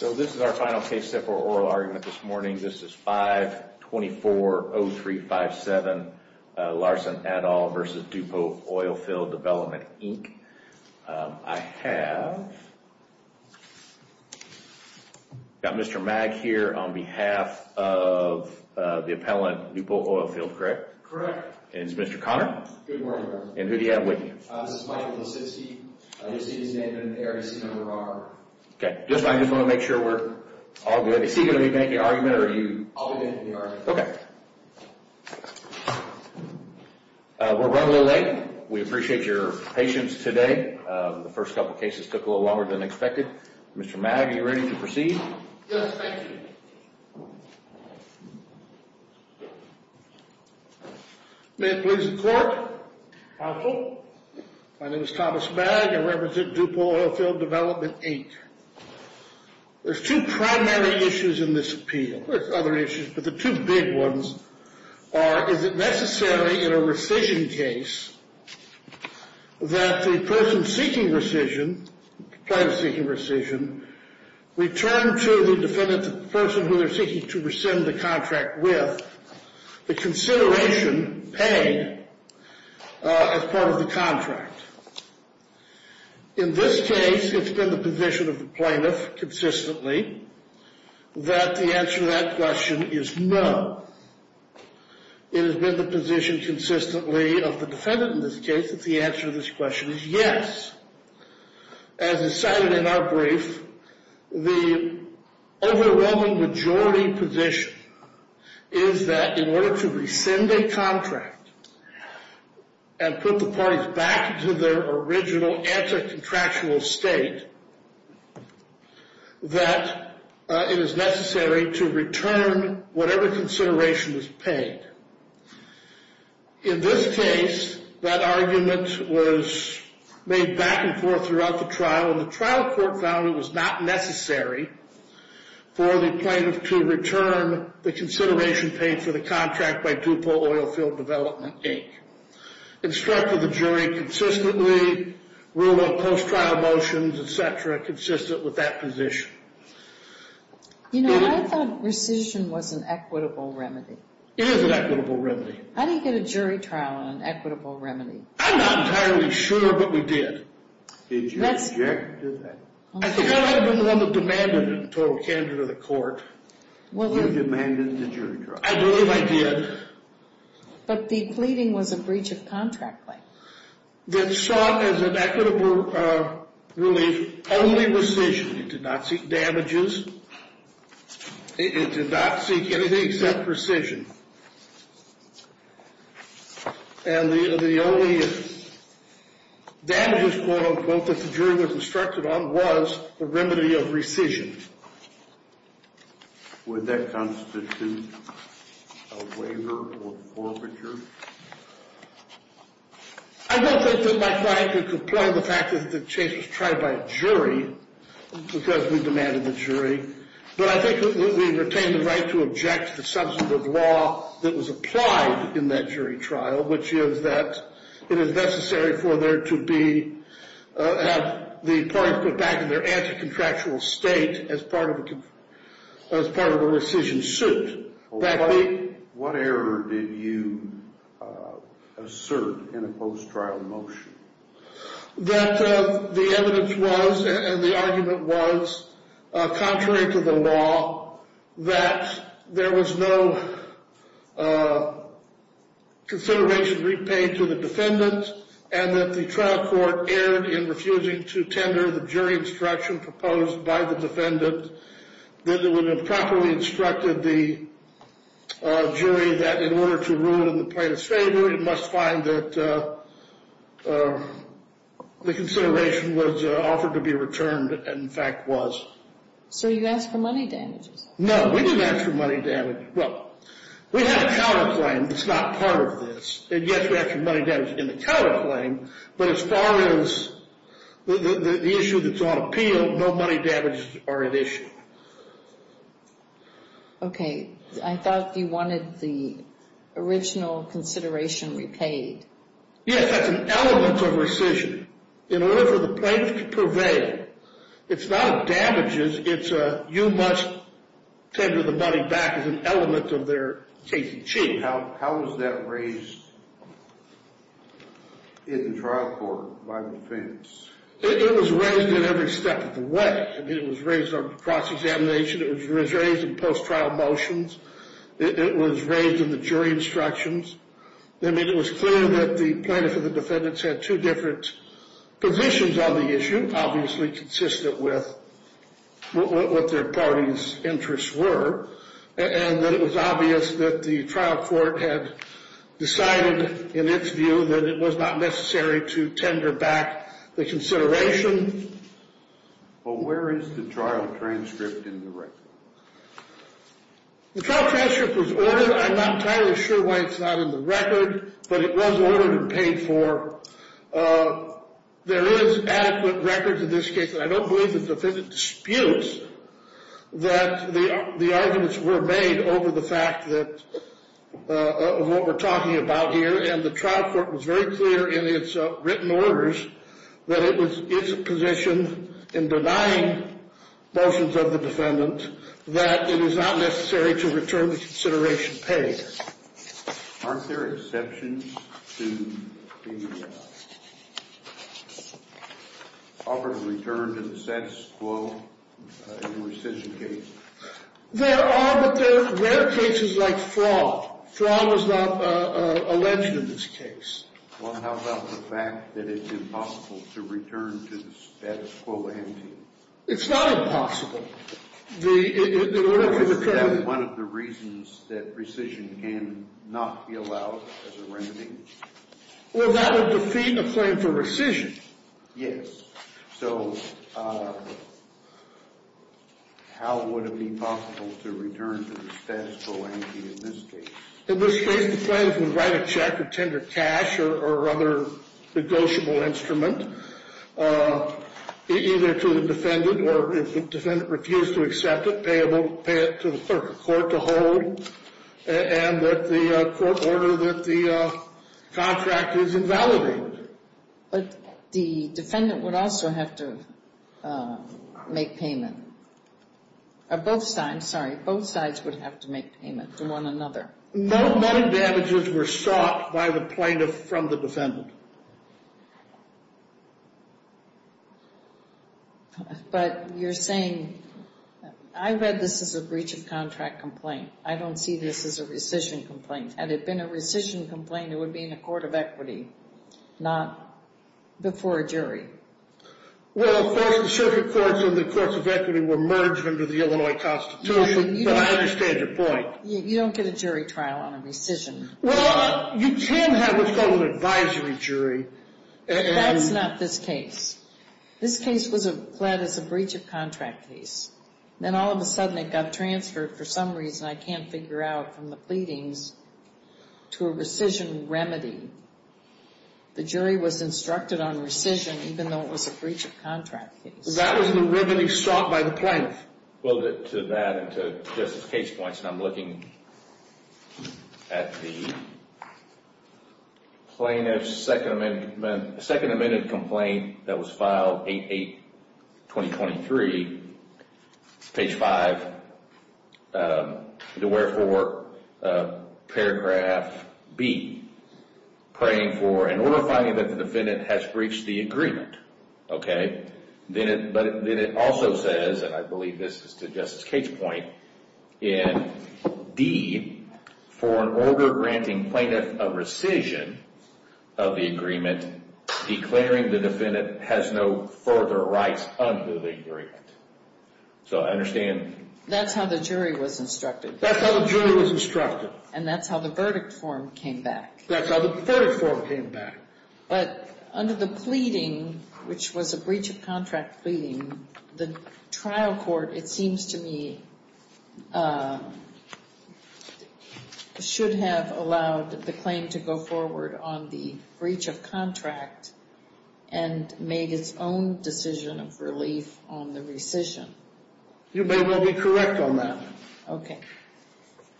This is our final case step for oral argument this morning. This is 5-240357, Larson et al. v. Dupo Oilfield Development, Inc. I have got Mr. Mag here on behalf of the appellant, Dupo Oilfield, correct? Correct. And it's Mr. Conner? Good morning. And who do you have with you? This is Michael Lasitsky. I just want to make sure we're all good. Is he going to be making the argument or are you? I'll be making the argument. Okay. We're running a little late. We appreciate your patience today. The first couple of cases took a little longer than expected. Mr. Mag, are you ready to proceed? Yes, thank you. May it please the court. Counsel. My name is Thomas Mag. I represent Dupo Oilfield Development, Inc. There's two primary issues in this appeal. There's other issues, but the two big ones are, is it necessary in a rescission case that the person seeking rescission, the plaintiff seeking rescission, return to the defendant the person who they're seeking to rescind the contract with the consideration paid as part of the contract? In this case, it's been the position of the plaintiff consistently that the answer to that question is no. It has been the position consistently of the defendant in this case that the answer to this question is yes. As is cited in our brief, the overwhelming majority position is that in order to rescind a contract and put the parties back to their original anti-contractual state, that it is necessary to return whatever consideration is paid. In this case, that argument was made back and forth throughout the trial, and the trial court found it was not necessary for the plaintiff to return the consideration paid for the contract by Dupo Oilfield Development, Inc. Instructed the jury consistently, ruled on post-trial motions, et cetera, consistent with that position. You know, I thought rescission was an equitable remedy. It is an equitable remedy. How do you get a jury trial on an equitable remedy? I'm not entirely sure, but we did. Did you object to that? I think I might have been the one that demanded it and told the candidate of the court. You demanded the jury trial. I believe I did. But the pleading was a breach of contract claim. It saw as an equitable relief only rescission. It did not seek damages. It did not seek anything except rescission. And the only damages, quote, unquote, that the jury was instructed on was a remedy of rescission. Would that constitute a waiver or forfeiture? I don't think that my client could comply with the fact that the case was tried by a jury because we demanded the jury. But I think we retained the right to object to the substantive law that was applied in that jury trial, which is that it is necessary for there to be the parties put back in their anti-contractual state as part of a rescission suit. What error did you assert in a post-trial motion? That the evidence was and the argument was, contrary to the law, that there was no consideration repaid to the defendant and that the trial court erred in refusing to tender the jury instruction proposed by the defendant that it would have properly instructed the jury that in order to rule in the plaintiff's favor, it must find that the consideration was offered to be returned and, in fact, was. So you asked for money damages? No, we didn't ask for money damages. Well, we have a counterclaim that's not part of this. And, yes, we have some money damages in the counterclaim. But as far as the issue that's on appeal, no money damages are an issue. Okay. I thought you wanted the original consideration repaid. Yes, that's an element of rescission. In order for the plaintiff to prevail, it's not a damages, it's a you must tender the money back is an element of their case achieved. How was that raised in the trial court by the defendants? It was raised in every step of the way. It was raised on cross-examination. It was raised in post-trial motions. It was raised in the jury instructions. I mean, it was clear that the plaintiff and the defendants had two different positions on the issue, obviously consistent with what their parties' interests were, and that it was obvious that the trial court had decided, in its view, that it was not necessary to tender back the consideration. Well, where is the trial transcript in the record? The trial transcript was ordered. I'm not entirely sure why it's not in the record, but it was ordered and paid for. There is adequate records in this case, and I don't believe the defendant disputes that the arguments were made over the fact that of what we're talking about here, and the trial court was very clear in its written orders that it was its position in denying motions of the defendant that it is not necessary to return the consideration paid. Aren't there exceptions to the offer to return to the status quo in rescission cases? There are, but there are rare cases like FRAW. FRAW was not alleged in this case. Well, how about the fact that it's impossible to return to the status quo ante? It's not impossible. Isn't that one of the reasons that rescission can not be allowed as a remedy? Well, that would defeat a claim for rescission. Yes. So how would it be possible to return to the status quo ante in this case? In this case, the plaintiff would write a check or tender cash or other negotiable instrument, either to the defendant, or if the defendant refused to accept it, pay it to the court to hold, and that the court order that the contract is invalidated. But the defendant would also have to make payment. Or both sides, sorry, both sides would have to make payment to one another. No money damages were sought by the plaintiff from the defendant. But you're saying, I read this as a breach of contract complaint. I don't see this as a rescission complaint. Had it been a rescission complaint, it would be in a court of equity, not before a jury. Well, of course, the circuit courts and the courts of equity were merged under the Illinois Constitution, but I understand your point. You don't get a jury trial on a rescission. Well, you can have what's called an advisory jury. That's not this case. This case was pled as a breach of contract case. Then all of a sudden it got transferred for some reason I can't figure out from the pleadings to a rescission remedy. The jury was instructed on rescission even though it was a breach of contract case. That was the remedy sought by the plaintiff. Well, to that and to Justice's case points, and I'm looking at the plaintiff's second amended complaint that was filed, 8-8-2023, page 5, the wherefore, paragraph B, praying for, in order of finding that the defendant has breached the agreement, okay, but then it also says, and I believe this is to Justice Cates' point, in D, for an order granting plaintiff a rescission of the agreement, declaring the defendant has no further rights under the agreement. So I understand. That's how the jury was instructed. That's how the jury was instructed. And that's how the verdict form came back. That's how the verdict form came back. But under the pleading, which was a breach of contract pleading, the trial court, it seems to me, should have allowed the claim to go forward on the breach of contract and made its own decision of relief on the rescission. You may well be correct on that. Okay.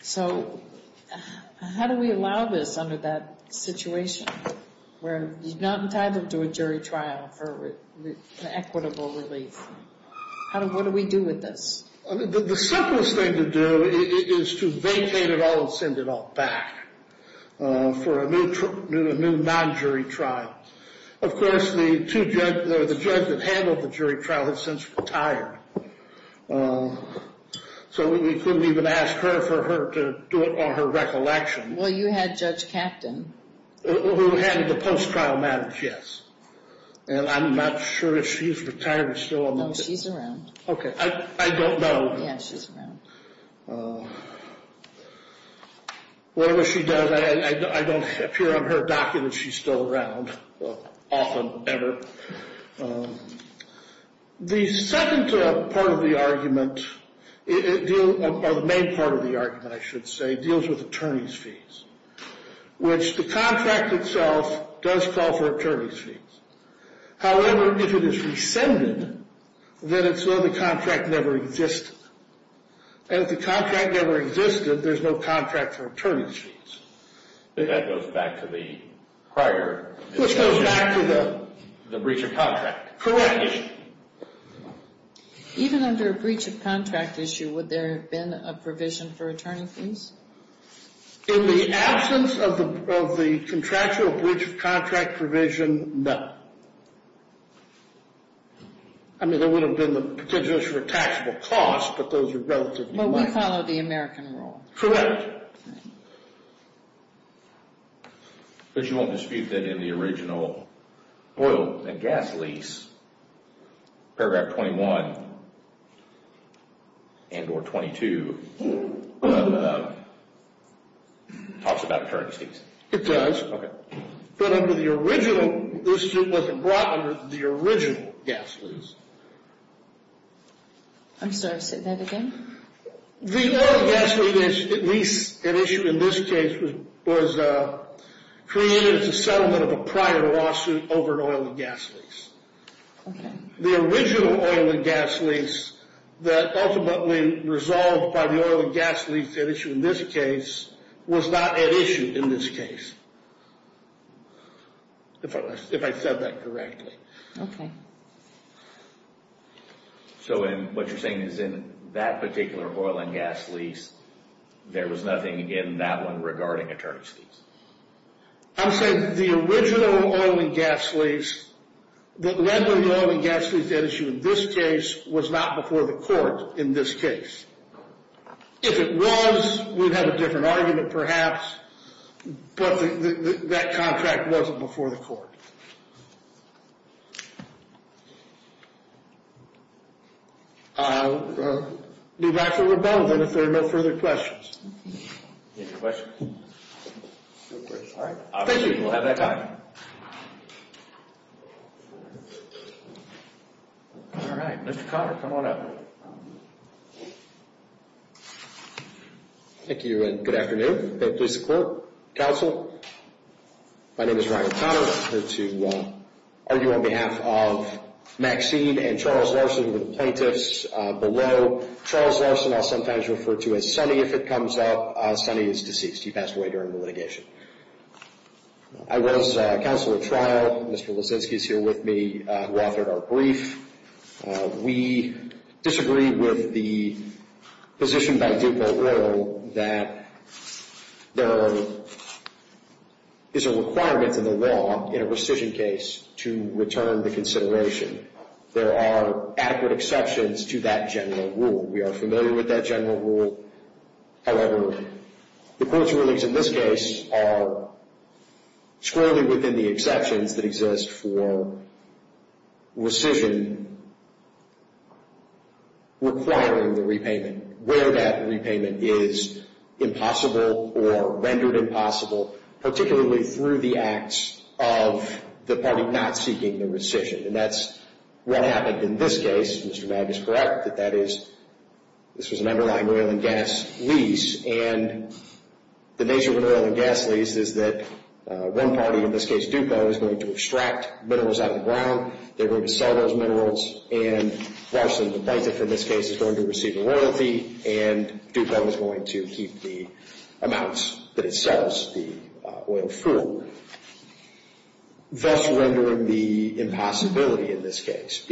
So how do we allow this under that situation where you're not entitled to a jury trial for an equitable relief? What do we do with this? The simplest thing to do is to vacate it all and send it all back for a new non-jury trial. Of course, the judge that handled the jury trial has since retired. So we couldn't even ask her for her to do it on her recollection. Well, you had Judge Kapton. Who handled the post-trial matters, yes. And I'm not sure if she's retired or still around. No, she's around. Okay. I don't know. Yeah, she's around. Whatever she does, I don't appear on her documents she's still around, often, ever. The second part of the argument, or the main part of the argument, I should say, deals with attorney's fees, which the contract itself does call for attorney's fees. However, if it is rescinded, then it's known the contract never existed. And if the contract never existed, there's no contract for attorney's fees. That goes back to the prior. Which goes back to the? The breach of contract. Correct. Even under a breach of contract issue, would there have been a provision for attorney's fees? In the absence of the contractual breach of contract provision, no. I mean, there would have been the potential for a taxable cost, but those are relatively minor. But we follow the American rule. Correct. All right. But you won't dispute that in the original oil and gas lease, paragraph 21 and or 22, talks about attorney's fees. It does. Okay. But under the original, this wasn't brought under the original gas lease. I'm sorry, say that again? The oil and gas lease, at issue in this case, was created as a settlement of a prior lawsuit over an oil and gas lease. The original oil and gas lease that ultimately resolved by the oil and gas lease at issue in this case was not at issue in this case. If I said that correctly. Okay. So what you're saying is in that particular oil and gas lease, there was nothing in that one regarding attorney's fees? I'm saying the original oil and gas lease that led to the oil and gas lease at issue in this case was not before the court in this case. If it was, we'd have a different argument perhaps, but that contract wasn't before the court. I'll leave that for rebuttal then if there are no further questions. Any questions? All right. Thank you. We'll have that time. All right. Mr. Conner, come on up. Thank you and good afternoon. Please support counsel. My name is Ryan Conner. I'm here to argue on behalf of Maxine and Charles Larson, the plaintiffs below. Charles Larson I'll sometimes refer to as Sonny if it comes up. Sonny is deceased. He passed away during the litigation. I was counsel at trial. Mr. Lisinski is here with me who authored our brief. We disagree with the position by DuPont Oil that there is a requirement in the law in a rescission case to return the consideration. There are adequate exceptions to that general rule. We are familiar with that general rule. However, the court's rulings in this case are squarely within the exceptions that exist for rescission requiring the repayment, where that repayment is impossible or rendered impossible, particularly through the acts of the party not seeking the rescission. And that's what happened in this case. Mr. Madden is correct that this was an underlying oil and gas lease. And the nature of an oil and gas lease is that one party, in this case DuPont, is going to extract minerals out of the ground. They're going to sell those minerals, and Larson, the plaintiff in this case, is going to receive royalty, and DuPont is going to keep the amounts that it sells the oil for, thus rendering the impossibility in this case.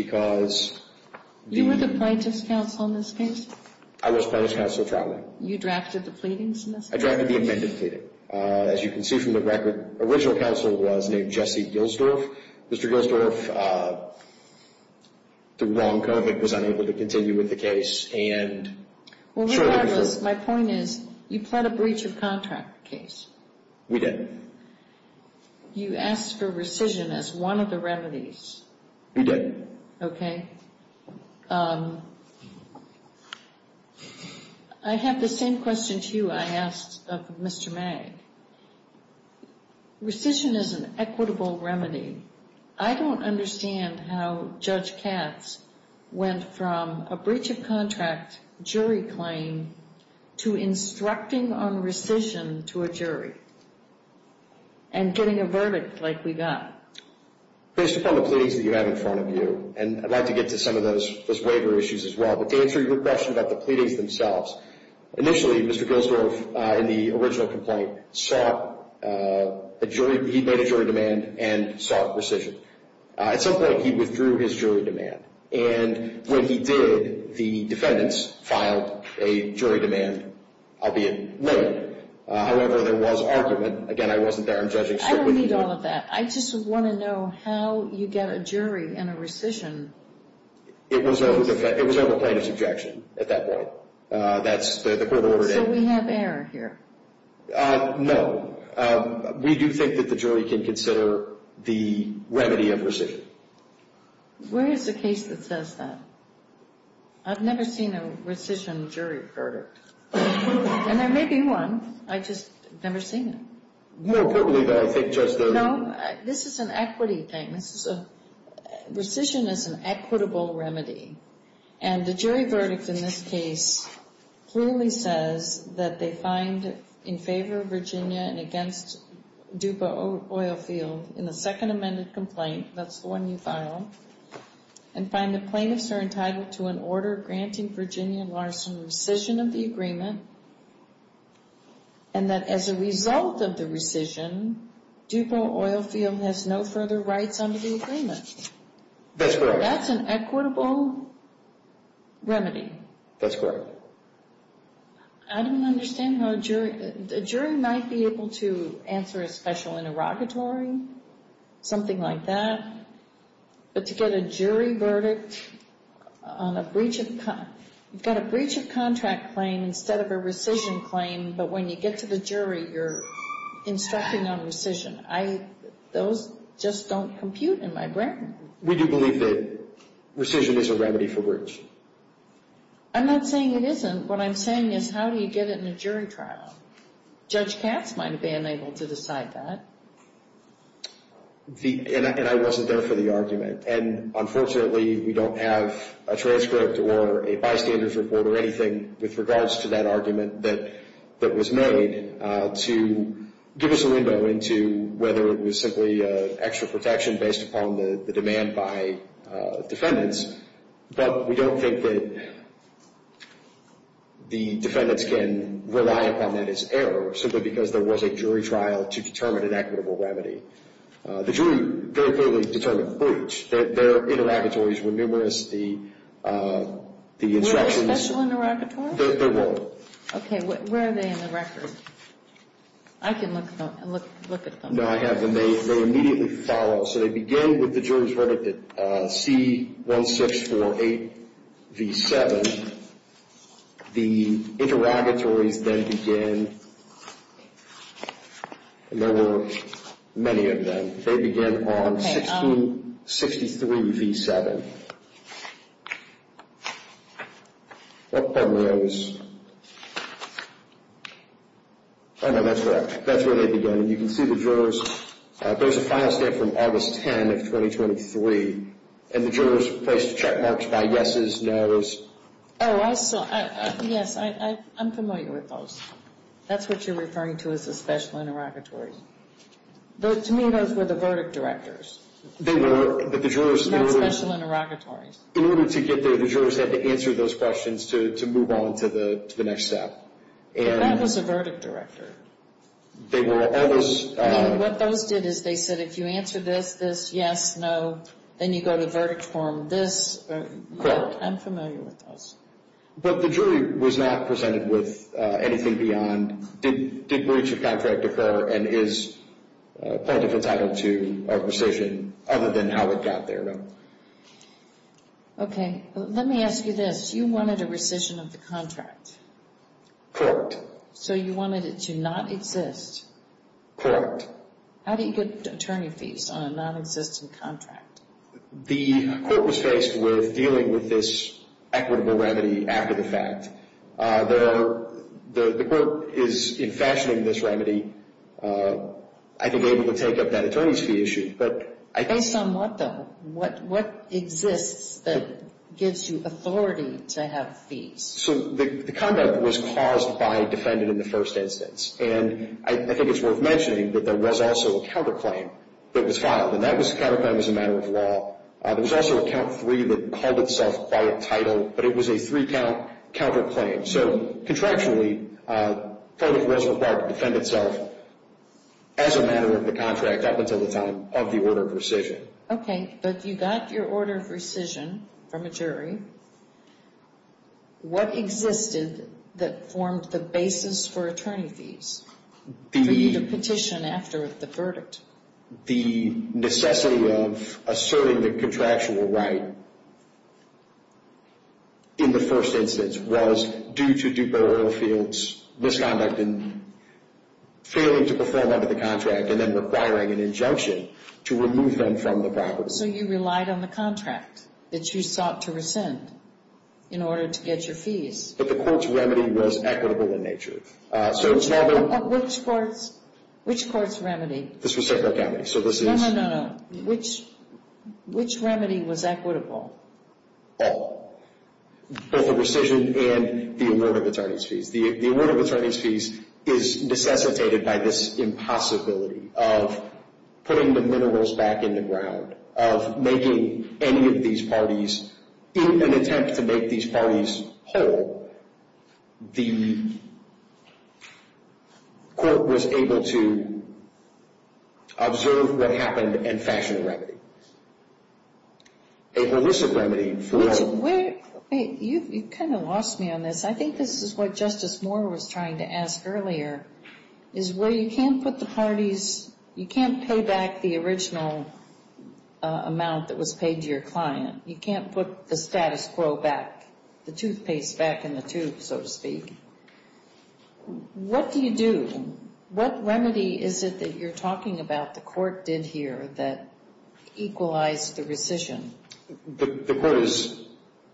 You were the plaintiff's counsel in this case? I was plaintiff's counsel throughout. You drafted the pleadings in this case? I drafted the amended pleading. As you can see from the record, the original counsel was named Jesse Gilsdorf. Mr. Gilsdorf, through wrong code, was unable to continue with the case. Well, regardless, my point is you pled a breach of contract case. We did. You asked for rescission as one of the remedies. We did. Okay. I have the same question to you I asked of Mr. May. Rescission is an equitable remedy. I don't understand how Judge Katz went from a breach of contract jury claim to instructing on rescission to a jury and getting a verdict like we got. Based upon the pleadings that you have in front of you, and I'd like to get to some of those waiver issues as well, but to answer your question about the pleadings themselves, initially, Mr. Gilsdorf, in the original complaint, he made a jury demand and sought rescission. At some point, he withdrew his jury demand, and when he did, the defendants filed a jury demand, albeit late. However, there was argument. Again, I wasn't there in judging. I don't need all of that. I just want to know how you get a jury and a rescission. It was over a plaintiff's objection at that point. That's the court ordered it. So we have error here? No. We do think that the jury can consider the remedy of rescission. Where is the case that says that? I've never seen a rescission jury verdict, and there may be one. I've just never seen it. No, this is an equity thing. Rescission is an equitable remedy, and the jury verdict in this case clearly says that they find in favor of Virginia and against Dupa Oilfield in the second amended complaint, that's the one you filed, and find the plaintiffs are entitled to an order granting Virginia and Larson rescission of the agreement and that as a result of the rescission, Dupa Oilfield has no further rights under the agreement. That's correct. That's an equitable remedy. That's correct. I don't understand how a jury, a jury might be able to answer a special interrogatory, something like that, but to get a jury verdict on a breach of, you've got a breach of contract claim instead of a rescission claim, but when you get to the jury, you're instructing on rescission. Those just don't compute in my brain. We do believe that rescission is a remedy for breach. I'm not saying it isn't. What I'm saying is how do you get it in a jury trial? Judge Katz might have been able to decide that. And I wasn't there for the argument, and unfortunately we don't have a transcript or a bystanders report or anything with regards to that argument that was made to give us a window into whether it was simply extra protection based upon the demand by defendants, but we don't think that the defendants can rely upon that as error, simply because there was a jury trial to determine an equitable remedy. The jury very clearly determined breach. Their interrogatories were numerous. The instructions. Were there special interrogatories? There were. Okay. Where are they in the record? I can look at them. No, I have them. They immediately follow. So they begin with the jury's verdict at C1648V7. And the interrogatories then begin. There were many of them. They begin on C1663V7. What part of those? Oh, no, that's right. That's where they begin. You can see the jurors. There's a final state from August 10 of 2023, and the jurors place check marks by yeses, nos. Oh, I saw. Yes, I'm familiar with those. That's what you're referring to as the special interrogatories. To me, those were the verdict directors. They were. Not special interrogatories. In order to get there, the jurors had to answer those questions to move on to the next step. That was a verdict director. What those did is they said, if you answer this, this, yes, no, then you go to verdict form, this. Correct. I'm familiar with those. But the jury was not presented with anything beyond, did breach of contract occur and is plaintiff entitled to a rescission, other than how it got there. Okay. Let me ask you this. You wanted a rescission of the contract. Correct. So you wanted it to not exist. Correct. How do you get attorney fees on a nonexistent contract? The court was faced with dealing with this equitable remedy after the fact. The court is, in fashioning this remedy, I think able to take up that attorney's fee issue. Based on what, though? What exists that gives you authority to have fees? So the conduct was caused by defendant in the first instance. And I think it's worth mentioning that there was also a counterclaim that was filed. And that counterclaim was a matter of law. There was also a count three that called itself by title, but it was a three-count counterclaim. So contractually, plaintiff was required to defend itself as a matter of the contract up until the time of the order of rescission. Okay. But you got your order of rescission from a jury. What existed that formed the basis for attorney fees for you to petition after the verdict? The necessity of asserting the contractual right in the first instance was due to DuPo oil fields, misconduct, and failing to perform under the contract, and then requiring an injunction to remove them from the property. So you relied on the contract that you sought to rescind in order to get your fees. But the court's remedy was equitable in nature. Which court's remedy? This was Sedgwick County. No, no, no, no. Which remedy was equitable? Both the rescission and the order of attorney's fees. The order of attorney's fees is necessitated by this impossibility of putting the minerals back in the ground, of making any of these parties, in an attempt to make these parties whole, the court was able to observe what happened and fashion a remedy. A illicit remedy for — You kind of lost me on this. I think this is what Justice Moore was trying to ask earlier, is where you can't put the parties, you can't pay back the original amount that was paid to your client. You can't put the status quo back, the toothpaste back in the tube, so to speak. What do you do? What remedy is it that you're talking about the court did here that equalized the rescission? The court is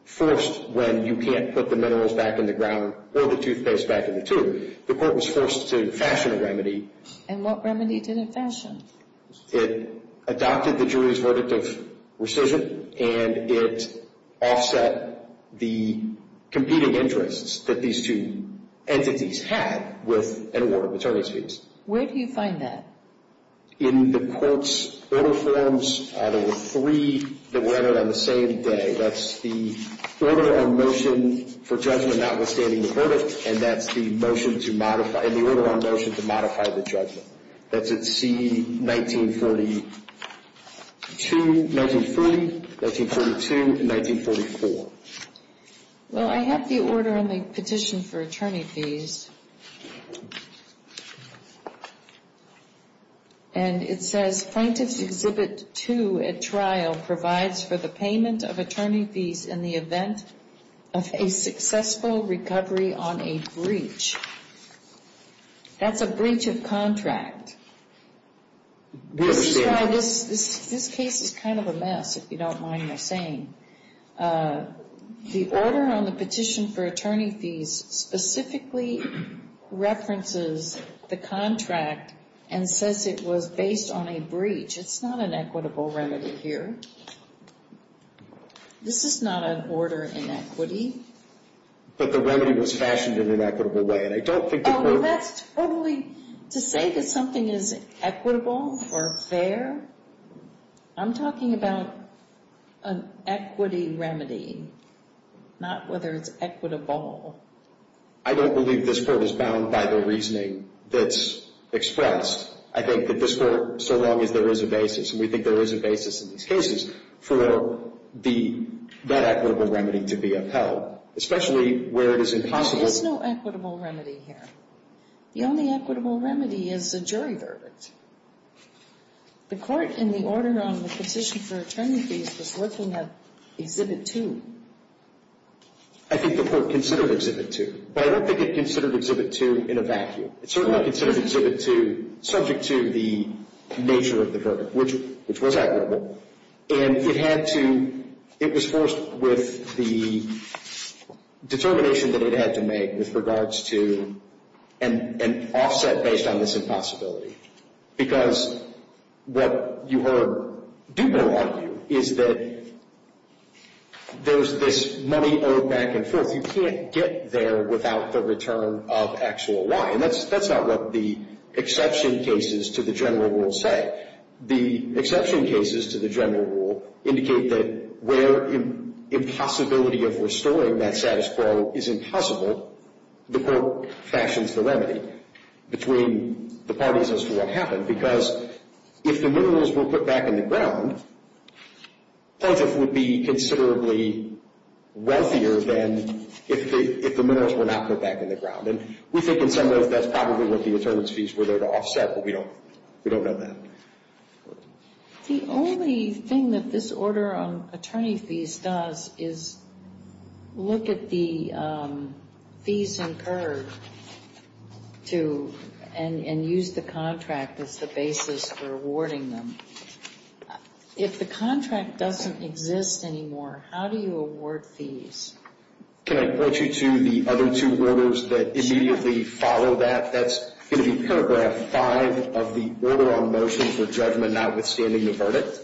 forced, when you can't put the minerals back in the ground or the toothpaste back in the tube, the court was forced to fashion a remedy. And what remedy did it fashion? It adopted the jury's verdict of rescission, and it offset the competing interests that these two entities had with an order of attorney's fees. Where do you find that? In the court's order forms, there were three that were entered on the same day. That's the order on motion for judgment notwithstanding the verdict, and that's the order on motion to modify the judgment. That's at C-1942, 1940, 1942, and 1944. Well, I have the order on the petition for attorney fees, and it says plaintiff's Exhibit 2 at trial provides for the payment of attorney fees in the event of a successful recovery on a breach. That's a breach of contract. This is why this case is kind of a mess, if you don't mind my saying. The order on the petition for attorney fees specifically references the contract and says it was based on a breach. It's not an equitable remedy here. This is not an order in equity. But the remedy was fashioned in an equitable way, and I don't think the court— Well, that's totally—to say that something is equitable or fair, I'm talking about an equity remedy, not whether it's equitable. I don't believe this court is bound by the reasoning that's expressed. I think that this court, so long as there is a basis, and we think there is a basis in these cases, for that equitable remedy to be upheld, especially where it is impossible— There is no equitable remedy here. The only equitable remedy is a jury verdict. The court in the order on the petition for attorney fees was looking at Exhibit 2. I think the court considered Exhibit 2. But I don't think it considered Exhibit 2 in a vacuum. It certainly considered Exhibit 2 subject to the nature of the verdict, which was equitable. And it had to—it was forced with the determination that it had to make with regards to an offset based on this impossibility. Because what you heard Dupre argue is that there's this money owed back and forth. You can't get there without the return of actual Y. And that's not what the exception cases to the general rule say. But the exception cases to the general rule indicate that where impossibility of restoring that status quo is impossible, the court fashions the remedy between the parties as to what happened. Because if the minerals were put back in the ground, plaintiff would be considerably wealthier than if the minerals were not put back in the ground. And we think in some ways that's probably what the attorney's fees were there to offset, but we don't know that. The only thing that this order on attorney fees does is look at the fees incurred and use the contract as the basis for awarding them. If the contract doesn't exist anymore, how do you award fees? Can I point you to the other two orders that immediately follow that? That's going to be paragraph 5 of the order on motions of judgment notwithstanding the verdict.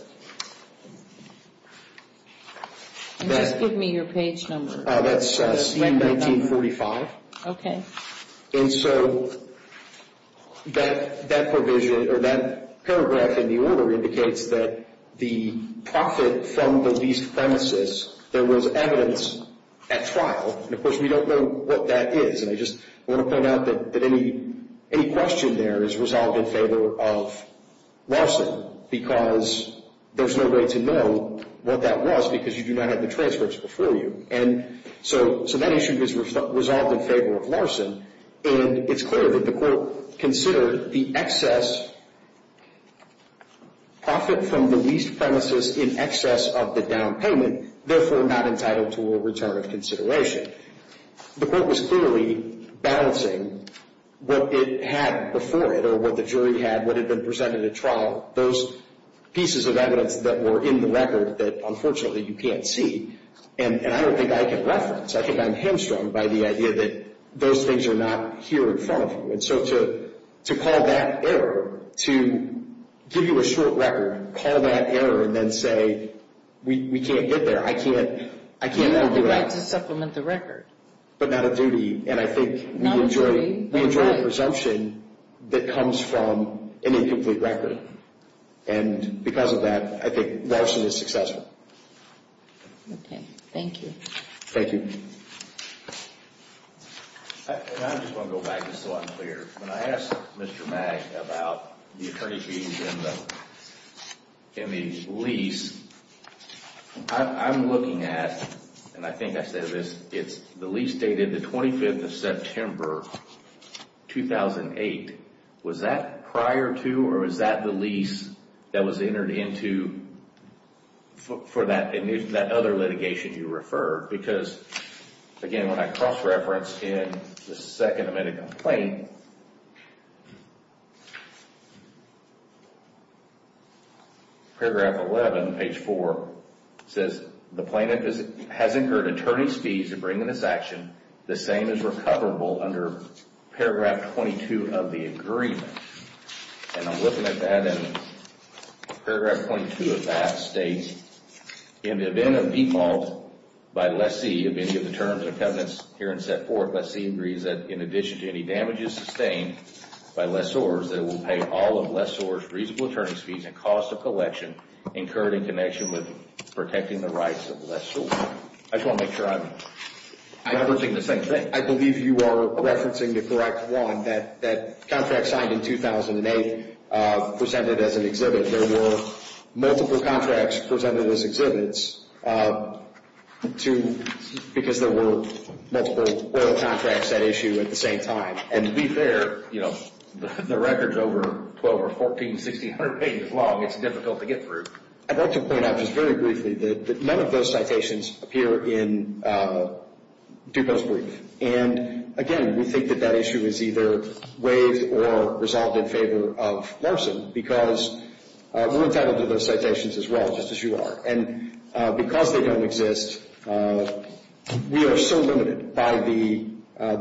And just give me your page number. That's C1945. Okay. And so that provision or that paragraph in the order indicates that the profit from the leased premises, there was evidence at trial. And, of course, we don't know what that is. And I just want to point out that any question there is resolved in favor of Larson because there's no way to know what that was because you do not have the transcripts before you. And so that issue is resolved in favor of Larson. And it's clear that the court considered the excess profit from the leased premises in excess of the down payment, therefore not entitled to a return of consideration. The court was clearly balancing what it had before it or what the jury had, what had been presented at trial, those pieces of evidence that were in the record that, unfortunately, you can't see. And I don't think I can reference. I think I'm hamstrung by the idea that those things are not here in front of you. And so to call that error, to give you a short record, call that error, and then say we can't get there, I can't override. You have the right to supplement the record. But not a duty. And I think we enjoy a presumption that comes from an incomplete record. And because of that, I think Larson is successful. Okay. Thank you. Thank you. And I just want to go back just so I'm clear. When I asked Mr. Mag about the attorney fees in the lease, I'm looking at, and I think I said this, the lease dated the 25th of September 2008. Was that prior to or was that the lease that was entered into for that other litigation you referred? Because, again, when I cross-reference in the second amendment complaint, paragraph 11, page 4, says, the plaintiff has incurred attorney's fees to bring in this action. The same is recoverable under paragraph 22 of the agreement. And I'm looking at that, and paragraph 22 of that states, in the event of default by lessee of any of the terms and covenants herein set forth, lessee agrees that in addition to any damages sustained by lessors, that it will pay all of lessors reasonable attorney's fees and cost of collection incurred in connection with protecting the rights of lessors. I just want to make sure I'm referencing the same thing. I believe you are referencing the correct one, that contract signed in 2008 presented as an exhibit. There were multiple contracts presented as exhibits because there were multiple oral contracts at issue at the same time. And to be fair, the record's over 1,200 or 1,400, 1,600 pages long. It's difficult to get through. I'd like to point out just very briefly that none of those citations appear in DUPO's brief. And, again, we think that that issue is either waived or resolved in favor of Larson because we're entitled to those citations as well, just as you are. And because they don't exist, we are so limited by the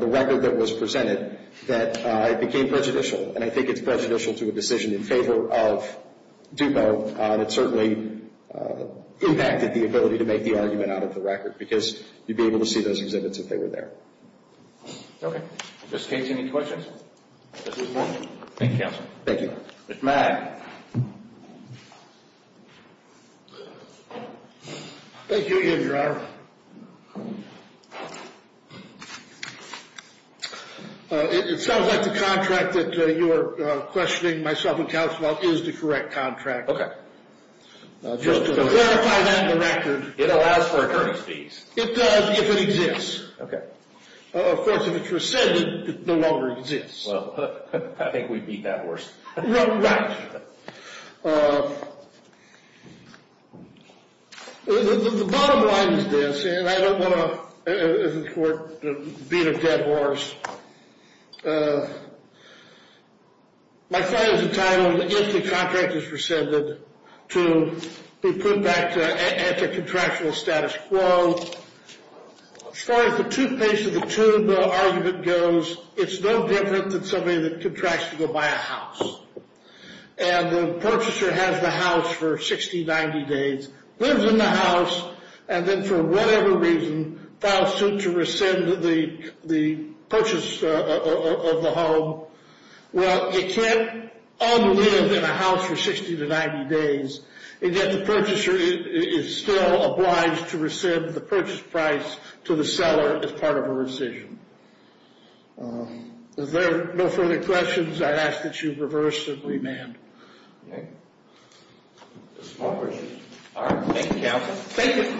record that was presented that it became prejudicial. And I think it's prejudicial to a decision in favor of DUPO. It certainly impacted the ability to make the argument out of the record because you'd be able to see those exhibits if they were there. Okay. In this case, any questions? Thank you, Counsel. Thank you. Mr. Mack. Thank you, Your Honor. It sounds like the contract that you are questioning myself and Counsel about is the correct contract. Just to verify that in the record. It allows for attorney's fees. It does if it exists. Okay. Of course, if it were said, it no longer exists. Well, I think we'd be that worse. Right. The bottom line is this, and I don't want to beat a dead horse. My client is entitled, if the contract is rescinded, to be put back at the contractual status quo. As far as the toothpaste of the tube argument goes, it's no different than somebody that contracts to go buy a house. And the purchaser has the house for 60, 90 days, lives in the house, and then for whatever reason files suit to rescind the purchase of the home. Well, it can't unlive in a house for 60 to 90 days, and yet the purchaser is still obliged to rescind the purchase price to the seller as part of a rescission. Is there no further questions? I ask that you reverse the remand. No questions. All right. Thank you, counsel. Thank you.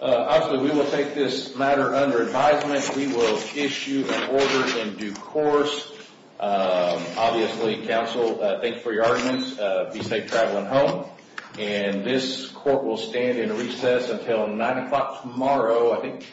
Obviously, we will take this matter under advisement. We will issue an order in due course. Obviously, counsel, thank you for your arguments. Be safe traveling home. And this court will stand in recess until 9 o'clock tomorrow, I think.